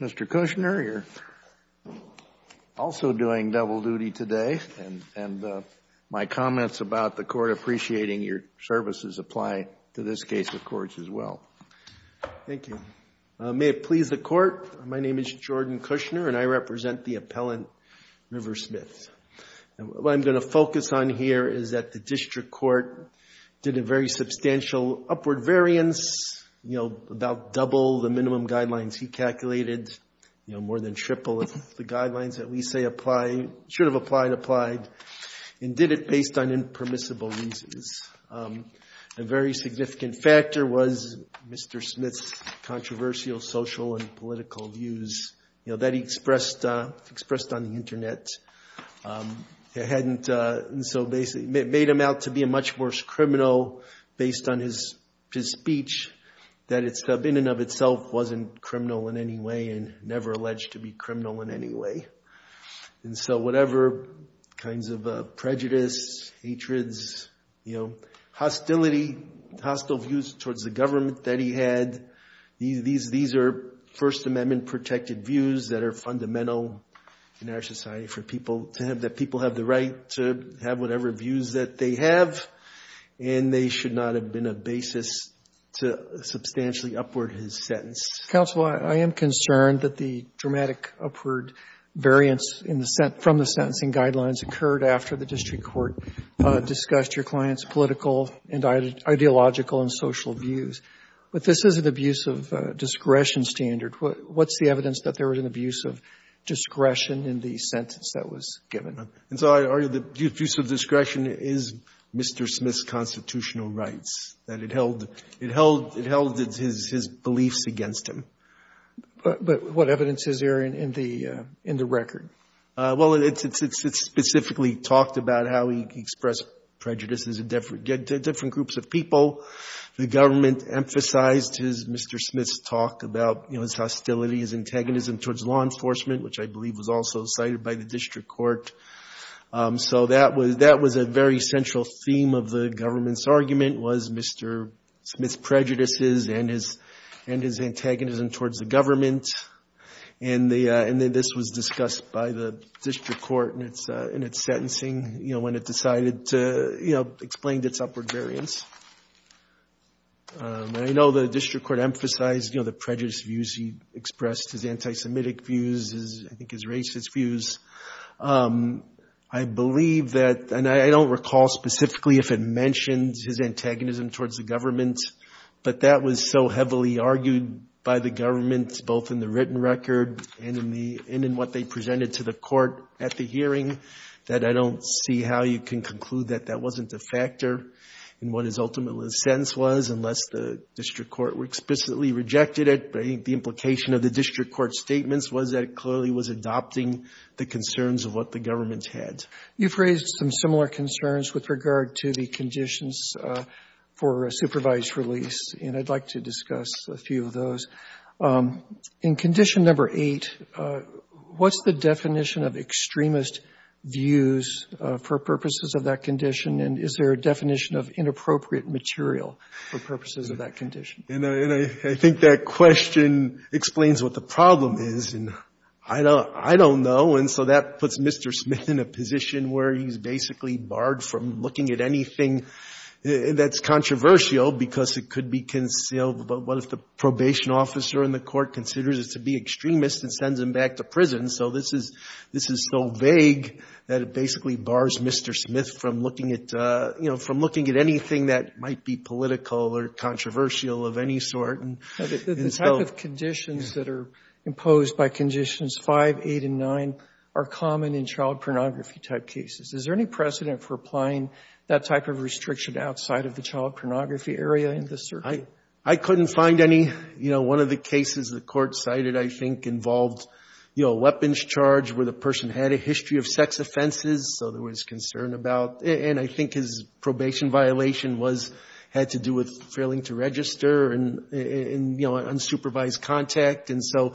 Mr. Kushner, you're also doing double duty today, and my comments about the Court Thank you. May it please the Court, my name is Jordan Kushner, and I represent the appellant River Smith. What I'm going to focus on here is that the District Court did a very substantial upward variance, you know, about double the minimum guidelines he calculated, you know, more than triple the guidelines that we say apply, should have applied, applied, and did it based on impermissible reasons. A very significant factor was Mr. Smith's controversial social and political views, you know, that he expressed on the Internet. It made him out to be a much worse criminal based on his speech, that in and of itself wasn't criminal in any way and never alleged to be criminal in any way. And so whatever kinds of prejudice, hatreds, you know, hostility, hostile views towards the government that he had, these are First Amendment protected views that are fundamental in our society for people to have that people have the right to have whatever views that they have, and they should not have been a basis to substantially upward his sentence. Robertson, counsel, I am concerned that the dramatic upward variance in the sent – from the sentencing guidelines occurred after the District Court discussed your client's political and ideological and social views. But this is an abuse of discretion standard. What's the evidence that there was an abuse of discretion in the sentence that was given? And so I argue the abuse of discretion is Mr. Smith's constitutional rights, that it held – it held – it held his – his beliefs against him. But what evidence is there in the – in the record? Well, it's – it's specifically talked about how he expressed prejudice to different groups of people. The government emphasized his – Mr. Smith's talk about, you know, his hostility, his antagonism towards law enforcement, which I believe was also cited by the District Court. So that was – that was a very central theme of the government's argument, was Mr. Smith's prejudices and his – and his antagonism towards the government. And the – and then this was discussed by the District Court in its – in its sentencing, you know, when it decided to, you know, explain its upward variance. And I know the District Court emphasized, you know, the prejudiced views he expressed, his anti-Semitic views, his – I think his racist views. I believe that – and I don't recall specifically if it mentioned his antagonism towards the government, but that was so heavily argued by the government, both in the written record and in the – and in what they presented to the court at the hearing, that I don't see how you can conclude that that wasn't a factor in what his ultimate sentence was, unless the District Court explicitly rejected it. I think the implication of the District Court's statements was that it clearly was adopting the concerns of what the government had. Robertson You've raised some similar concerns with regard to the conditions for a supervised release, and I'd like to discuss a few of those. In Condition No. 8, what's the definition of extremist views for purposes of that condition, and is there a definition of inappropriate material for purposes of that condition? Carvin And I think that question explains what the problem is, and I don't know, and so that puts Mr. Smith in a position where he's basically barred from looking at anything that's controversial, because it could be concealed. But what if the probation officer in the court considers it to be extremist and sends him back to prison? So this is so vague that it basically bars Mr. Smith from looking at – you know, from looking at anything that might be political or controversial of any sort. Robertson The type of conditions that are imposed by Conditions 5, 8, and 9 are common in child pornography-type cases. Is there any precedent for applying that type of restriction outside of the child pornography area in this circuit? Carvin I couldn't find any. You know, one of the cases the court cited, I think, involved, you know, a weapons charge where the person had a history of sex offenses, so there was concern about – and I think his probation violation was – had to do with failing to register and, you know, unsupervised contact, and so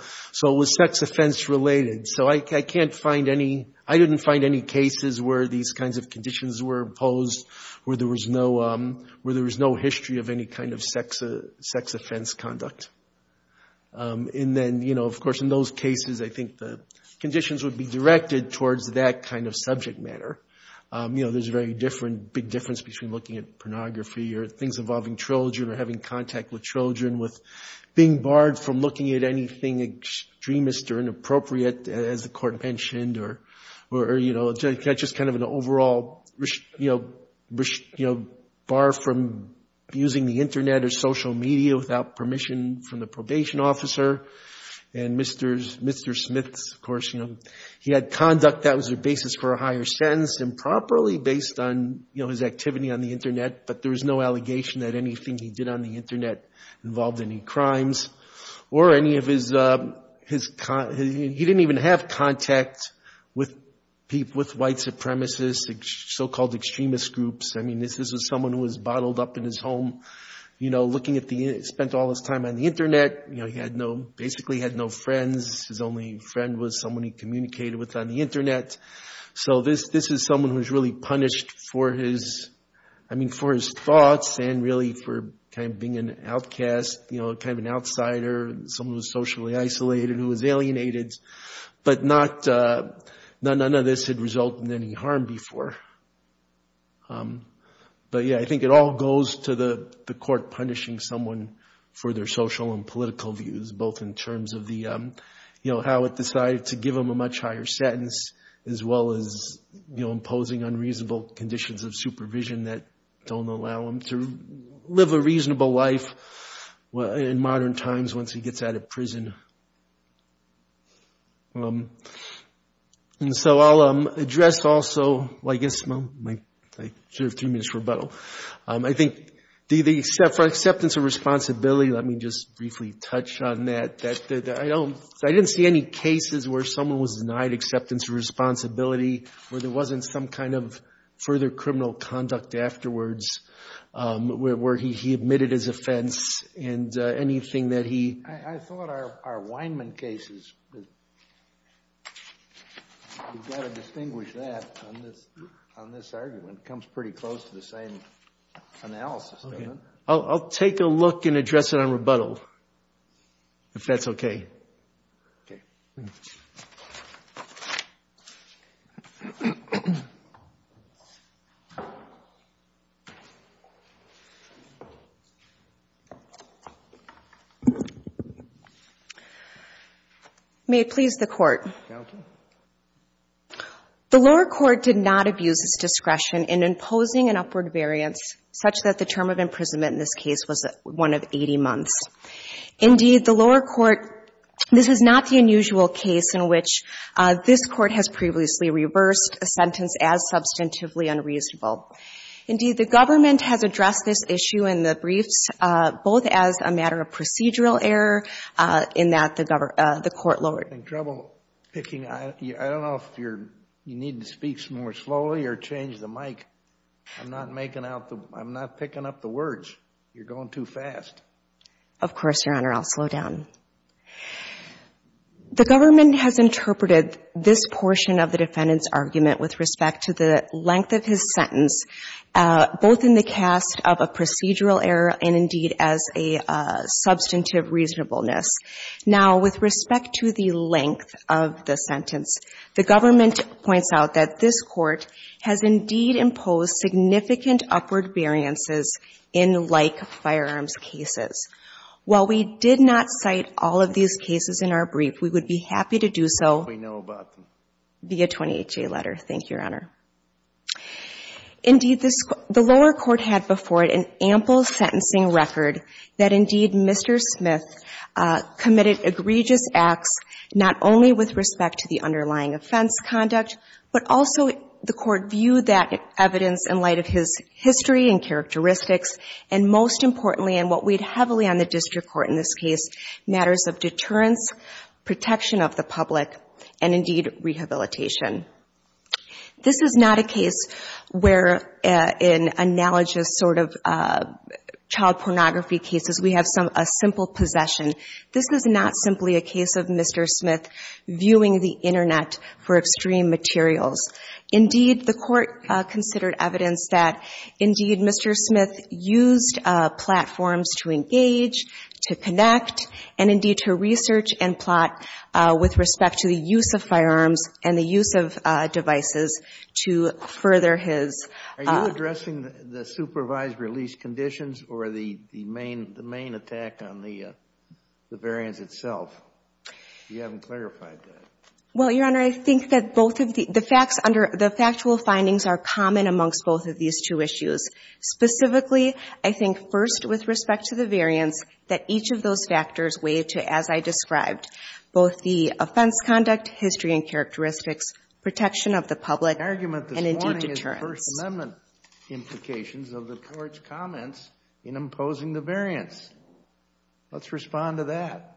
it was sex offense-related. So I can't find any – I didn't find any cases where these kinds of conditions were imposed where there was no – where there was no history of any kind of sex offense conduct. And then, you know, of course, in those cases, I think the conditions would be directed towards that kind of subject matter. You know, there's a very different – big difference between looking at pornography or things involving children or having contact with children, with being barred from looking at anything extremist or inappropriate, as the court mentioned, or, you know, just kind of an overall, you know, bar from using the Internet or social media without permission from the probation officer. And Mr. Smith, of course, you know, he had conduct that was a basis for a higher sentence improperly based on, you know, his activity on the Internet, but there was no allegation that anything he did on the Internet involved any crimes or any of his – he didn't even have contact with white supremacists, so-called extremist groups. I mean, this is someone who was bottled up in his home, you know, looking at the – spent all his time on the Internet. You know, he had no – basically was someone he communicated with on the Internet. So, this is someone who was really punished for his – I mean, for his thoughts and really for kind of being an outcast, you know, kind of an outsider, someone who was socially isolated, who was alienated, but not – none of this had resulted in any harm before. But, yeah, I think it all goes to the court punishing someone for their political views, both in terms of the, you know, how it decided to give him a much higher sentence, as well as, you know, imposing unreasonable conditions of supervision that don't allow him to live a reasonable life in modern times once he gets out of prison. And so, I'll address also – well, I guess – I should have three minutes for rebuttal. I think the acceptance of responsibility, let me just briefly touch on that. I don't – I didn't see any cases where someone was denied acceptance of responsibility, where there wasn't some kind of further criminal conduct afterwards, where he admitted his offense, and anything that he… I thought our Weinman case is – you've got to distinguish that on this argument. It comes pretty close to the same analysis. I'll take a look and address it on rebuttal, if that's okay. May it please the Court. The lower court did not abuse its discretion in imposing an upward variance such that the term of imprisonment in this case was one of 80 months. Indeed, the lower court – this is not the unusual case in which this Court has previously reversed a sentence as substantively unreasonable. Indeed, the government has addressed this issue in the briefs, both as a matter of procedural error, in that the court lowered… In trouble picking – I don't know if you're – you need to speak more slowly or change the mic. I'm not making out the – I'm not picking up the words. You're going too fast. Of course, Your Honor. I'll slow down. The government has interpreted this portion of the defendant's argument with respect to the length of his sentence, both in the cast of a procedural error and, indeed, as a substantive reasonableness. Now, with respect to the length of the sentence, the government points out that this Court has, indeed, imposed significant upward variances in like-firearms cases. While we did not cite all of these cases in our brief, we would be happy to do so… We know about them. …via 20HA letter. Thank you, Your Honor. Indeed, this – the lower court had before it an ample sentencing record that, indeed, Mr. Smith committed egregious acts not only with respect to the underlying offense conduct, but also the court viewed that evidence in light of his history and characteristics, and most importantly, and what weighed heavily on the district court in this case, matters of deterrence, protection of the public, and, indeed, rehabilitation. This is not a case where, in analogous sort of child pornography cases, we have a simple possession. This is not simply a case of Mr. Smith viewing the Internet for extreme materials. Indeed, the court considered evidence that, indeed, Mr. Smith used platforms to engage, to connect, and, indeed, to research and plot with respect to the use of firearms and the use of devices to further his… Are you addressing the supervised release conditions or the main attack on the variants itself? You haven't clarified that. Well, Your Honor, I think that both of the – the facts under – the factual findings are common amongst both of these two issues. Specifically, I think, first, with respect to the variants, that each of those factors weigh to, as I described, both the offense conduct, history and characteristics, protection of the public, and, indeed, deterrence. The argument this morning is the First Amendment implications of the court's comments in imposing the variants. Let's respond to that.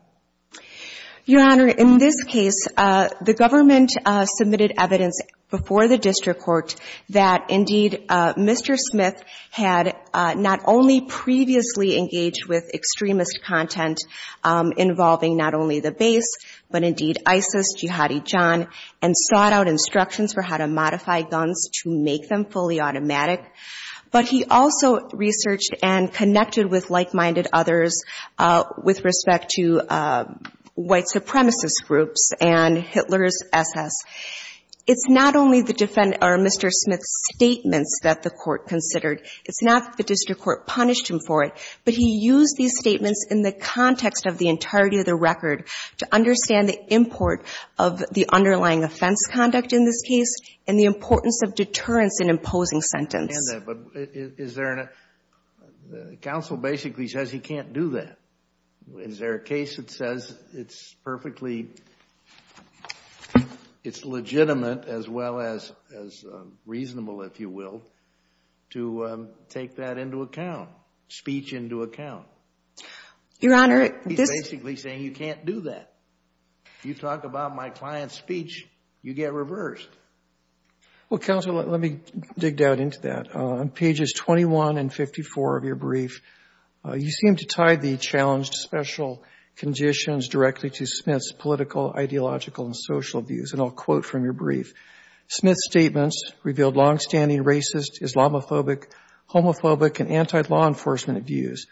Your Honor, in this case, the government submitted evidence before the district court that, indeed, Mr. Smith had not only previously engaged with extremist content involving not only the base, but, indeed, ISIS, Jihadi John, and sought out instructions for how to modify guns to make them fully automatic. But he also researched and connected with like-minded others with respect to white supremacist groups and Hitler's SS. It's not only the – or Mr. Smith's statements that the court considered. It's not that the district court punished him for it, but he used these statements in the context of the entirety of the record to understand the import of the underlying offense conduct in this case and the importance of deterrence in imposing sentence. And is there – the counsel basically says he can't do that. Is there a case that says it's perfectly – it's legitimate as well as reasonable, if you will, to take that into account, speech into account? Your Honor, this – He's basically saying you can't do that. You talk about my client's speech, you get reversed. Well, counsel, let me dig down into that. On pages 21 and 54 of your brief, you seem to tie the challenged special conditions directly to Smith's political, ideological, and social views. And I'll quote from your brief. Smith's statements revealed longstanding racist, Islamophobic, homophobic, and anti-law enforcement views.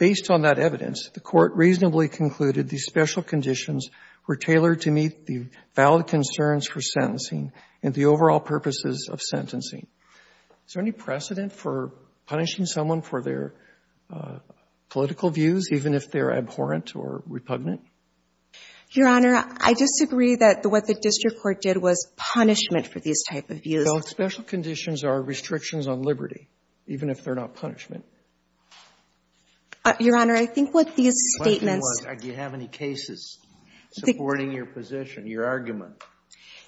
Based on that evidence, the court reasonably concluded these special conditions were tailored to meet the valid concerns for sentencing and the overall purposes of sentencing. Is there any precedent for punishing someone for their political views, even if they're abhorrent or repugnant? Your Honor, I disagree that what the district court did was punishment for these type of views. No, special conditions are restrictions on liberty, even if they're not punishment. Your Honor, I think what these statements – Do you have any cases supporting your position, your argument?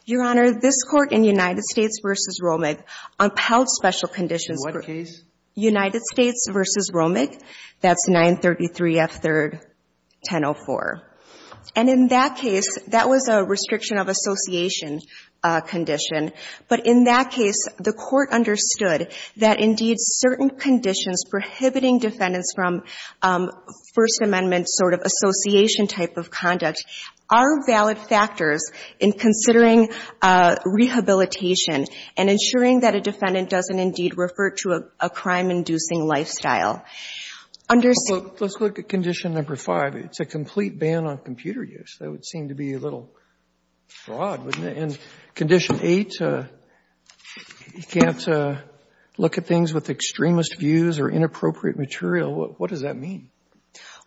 Your Honor, this Court in United States v. Romig unpelled special conditions. In what case? United States v. Romig. That's 933F3-1004. And in that case, that was a restriction of association condition. But in that case, the Court understood that, indeed, certain conditions prohibiting defendants from First Amendment sort of association type of conduct are valid factors in considering rehabilitation and ensuring that a defendant doesn't, indeed, refer to a crime-inducing lifestyle. Let's look at condition number five. It's a complete ban on computer use. That would seem to be a little broad, wouldn't it? And condition eight, you can't look at things with extremist views or inappropriate material. What does that mean?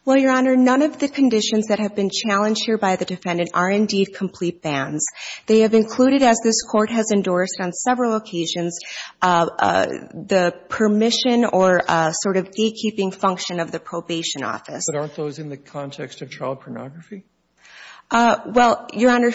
Well, Your Honor, none of the conditions that have been challenged here by the defendant are, indeed, complete bans. They have included, as this Court has endorsed on several occasions, the permission or sort of gatekeeping function of the probation office. But aren't those in the context of child pornography? Well, Your Honor,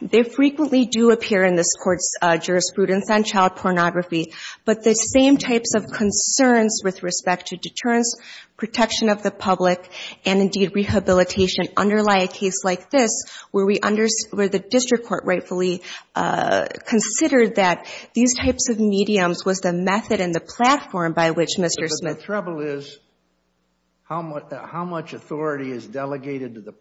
they frequently do appear in this Court's jurisprudence on child pornography. But the same types of concerns with respect to deterrence, protection of the public, and, indeed, rehabilitation underlie a case like this where the district court rightfully considered that these types of mediums was the method and the platform by which Mr. Smith But the trouble is, how much authority is delegated to the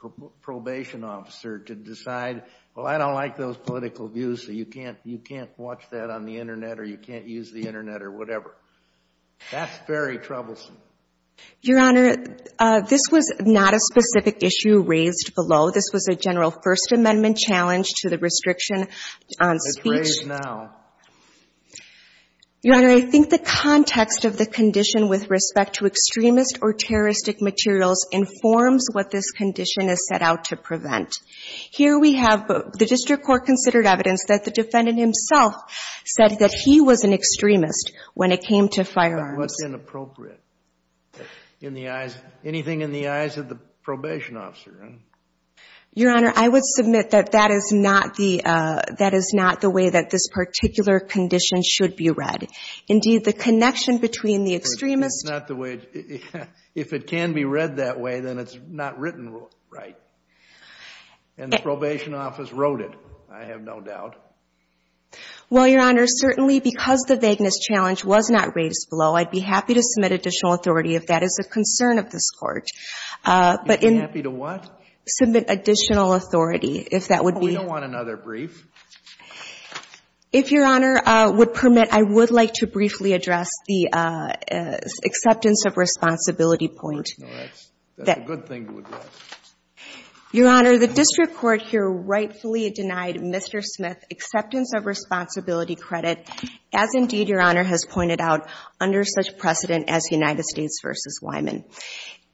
probation officer to decide, well, I don't like those political views, so you can't watch that on the Internet or you can't use the Internet or whatever? That's very troublesome. Your Honor, this was not a specific issue raised below. This was a general First Amendment challenge to the restriction on speech. It's raised now. Your Honor, I think the context of the condition with respect to extremist or terroristic materials informs what this condition is set out to prevent. Here we have the district court considered evidence that the defendant himself said that he was an extremist when it came to firearms. What's inappropriate? Anything in the eyes of the probation officer? Your Honor, I would submit that that is not the way that this particular condition should be read. Indeed, the connection between the extremist That's not the way. If it can be read that way, then it's not written right. And the probation office wrote it, I have no doubt. Well, Your Honor, certainly because the vagueness challenge was not raised below, I'd be happy to submit additional authority if that is a concern of this Court. You'd be happy to what? Submit additional authority, if that would be We don't want another brief. If Your Honor would permit, I would like to briefly address the acceptance of responsibility point. No, that's a good thing to address. Your Honor, the district court here rightfully denied Mr. Smith acceptance of responsibility credit, as indeed Your Honor has pointed out, under such precedent as United States v. Wyman.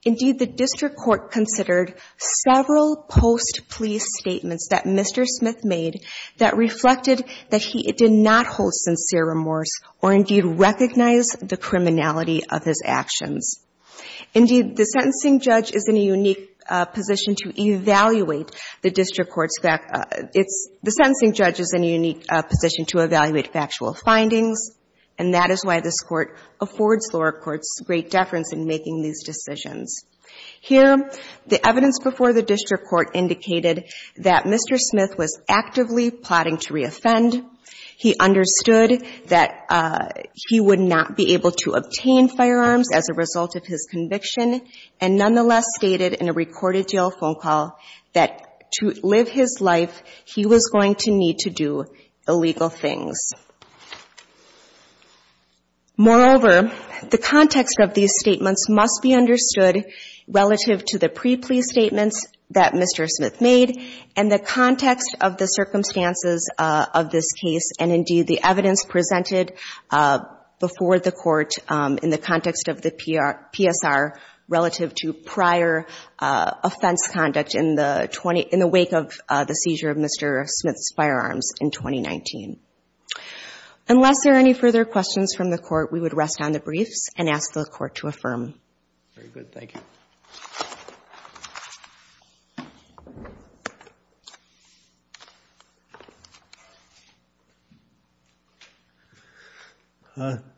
Indeed, the district court considered several post-plea statements that Mr. Smith made that reflected that he did not hold sincere remorse or indeed recognize the criminality of his actions. Indeed, the sentencing judge is in a unique position to evaluate factual findings, and that is why this Court affords lower courts great deference in making these decisions. Here, the evidence before the district court indicated that Mr. Smith was actively plotting to reoffend, he understood that he would not be able to obtain firearms as a result of his conviction, and nonetheless stated in a recorded jail phone call that to live his life, he was going to need to do illegal things. Moreover, the context of these statements must be understood relative to the pre-plea statements that Mr. Smith made and the context of the circumstances of this case, and indeed the evidence presented before the Court in the context of the PSR relative to prior offense conduct in the wake of the seizure of Mr. Smith's firearms in 2019. Unless there are any further questions from the Court, we would rest on the briefs and ask the Court to affirm. Very good, thank you.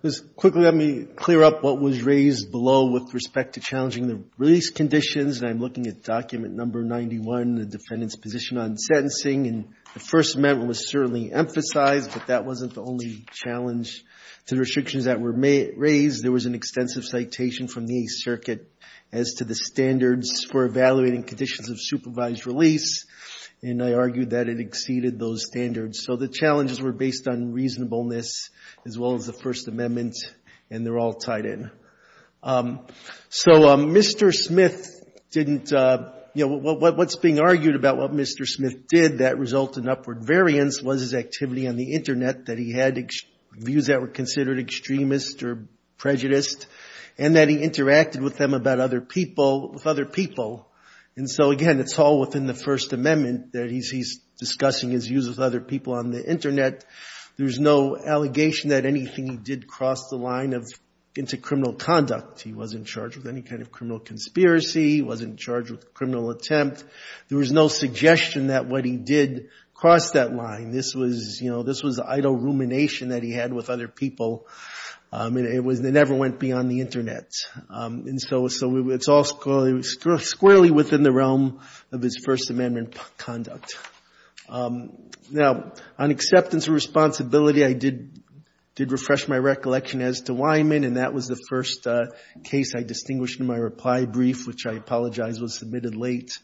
Just quickly, let me clear up what was raised below with respect to challenging the release conditions. I'm looking at document number 91, the defendant's position on sentencing, and the First Amendment was certainly emphasized, but that wasn't the only challenge to the extensive citation from the Eighth Circuit as to the standards for evaluating conditions of supervised release, and I argue that it exceeded those standards. So the challenges were based on reasonableness as well as the First Amendment, and they're all tied in. So Mr. Smith didn't, you know, what's being argued about what Mr. Smith did that resulted in upward variance was his activity on the internet, that he had views that were considered extremist or prejudiced, and that he interacted with them about other people with other people. And so again, it's all within the First Amendment that he's discussing his views with other people on the internet. There's no allegation that anything he did crossed the line of into criminal conduct. He wasn't charged with any kind of criminal conspiracy. He wasn't charged with a criminal attempt. There was no suggestion that what he did crossed that line. This was, you know, this was the idle rumination that he had with other people, and it never went beyond the internet. And so it's all squarely within the realm of his First Amendment conduct. Now, on acceptance of responsibility, I did refresh my recollection as to why I'm in, and that was the first case I distinguished in my reply brief, which I apologize was submitted late,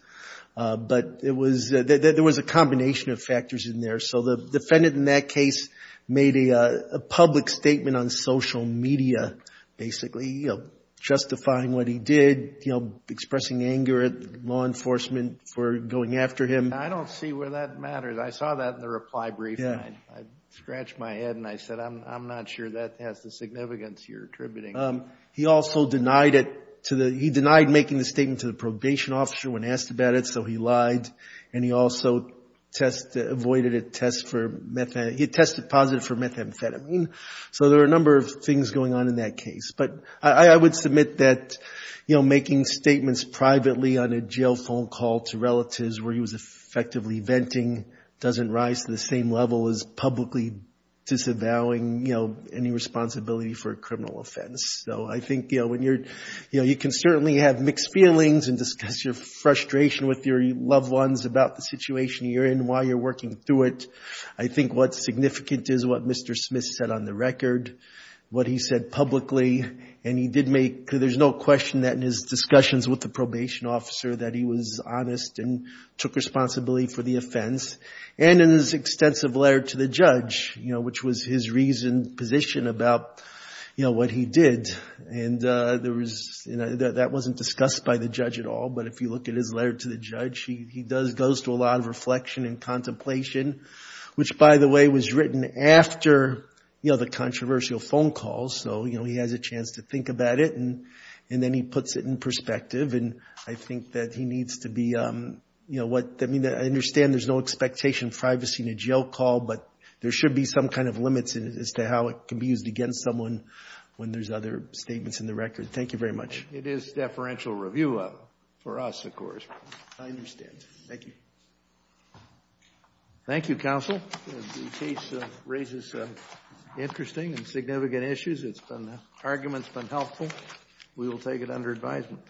but it was, there was a combination of factors in there. So the defendant in that case made a public statement on social media, basically, you know, justifying what he did, you know, expressing anger at law enforcement for going after him. I don't see where that matters. I saw that in the reply brief, and I scratched my head, and I said, I'm not sure that has the significance you're attributing. He also denied it to the, he denied making the statement to the probation officer when asked about it, so he lied. And he also tested, avoided a test for methamphetamine, he tested positive for methamphetamine. So there are a number of things going on in that case. But I would submit that, you know, making statements privately on a jail phone call to relatives where he was effectively venting doesn't rise to the same level as publicly disavowing, you know, any responsibility for a criminal offense. So I think, you know, when you're, you know, you can certainly have mixed feelings and discuss your frustration with your loved ones about the situation you're in while you're working through it. I think what's significant is what Mr. Smith said on the record, what he said publicly, and he did make, there's no question that in his discussions with the probation officer that he was honest and took responsibility for the offense. And in his extensive letter to the judge, you know, which was his reasoned position about, you know, what he did, and there was, you know, that wasn't discussed by the judge at all. But if you look at his letter to the judge, he does, goes to a lot of reflection and contemplation, which by the way was written after, you know, the controversial phone call. So, you know, he has a chance to think about it, and then he puts it in perspective. And I think that he needs to be, you know, what, I mean, I understand there's no expectation of privacy in a jail call, but there should be some kind of limits in it as to how it can be used against someone when there's other statements in the record. Thank you very much. It is deferential review for us, of course. I understand. Thank you. Thank you, counsel. The case raises some interesting and significant issues. It's been, the argument's been helpful. We will take it under advisement.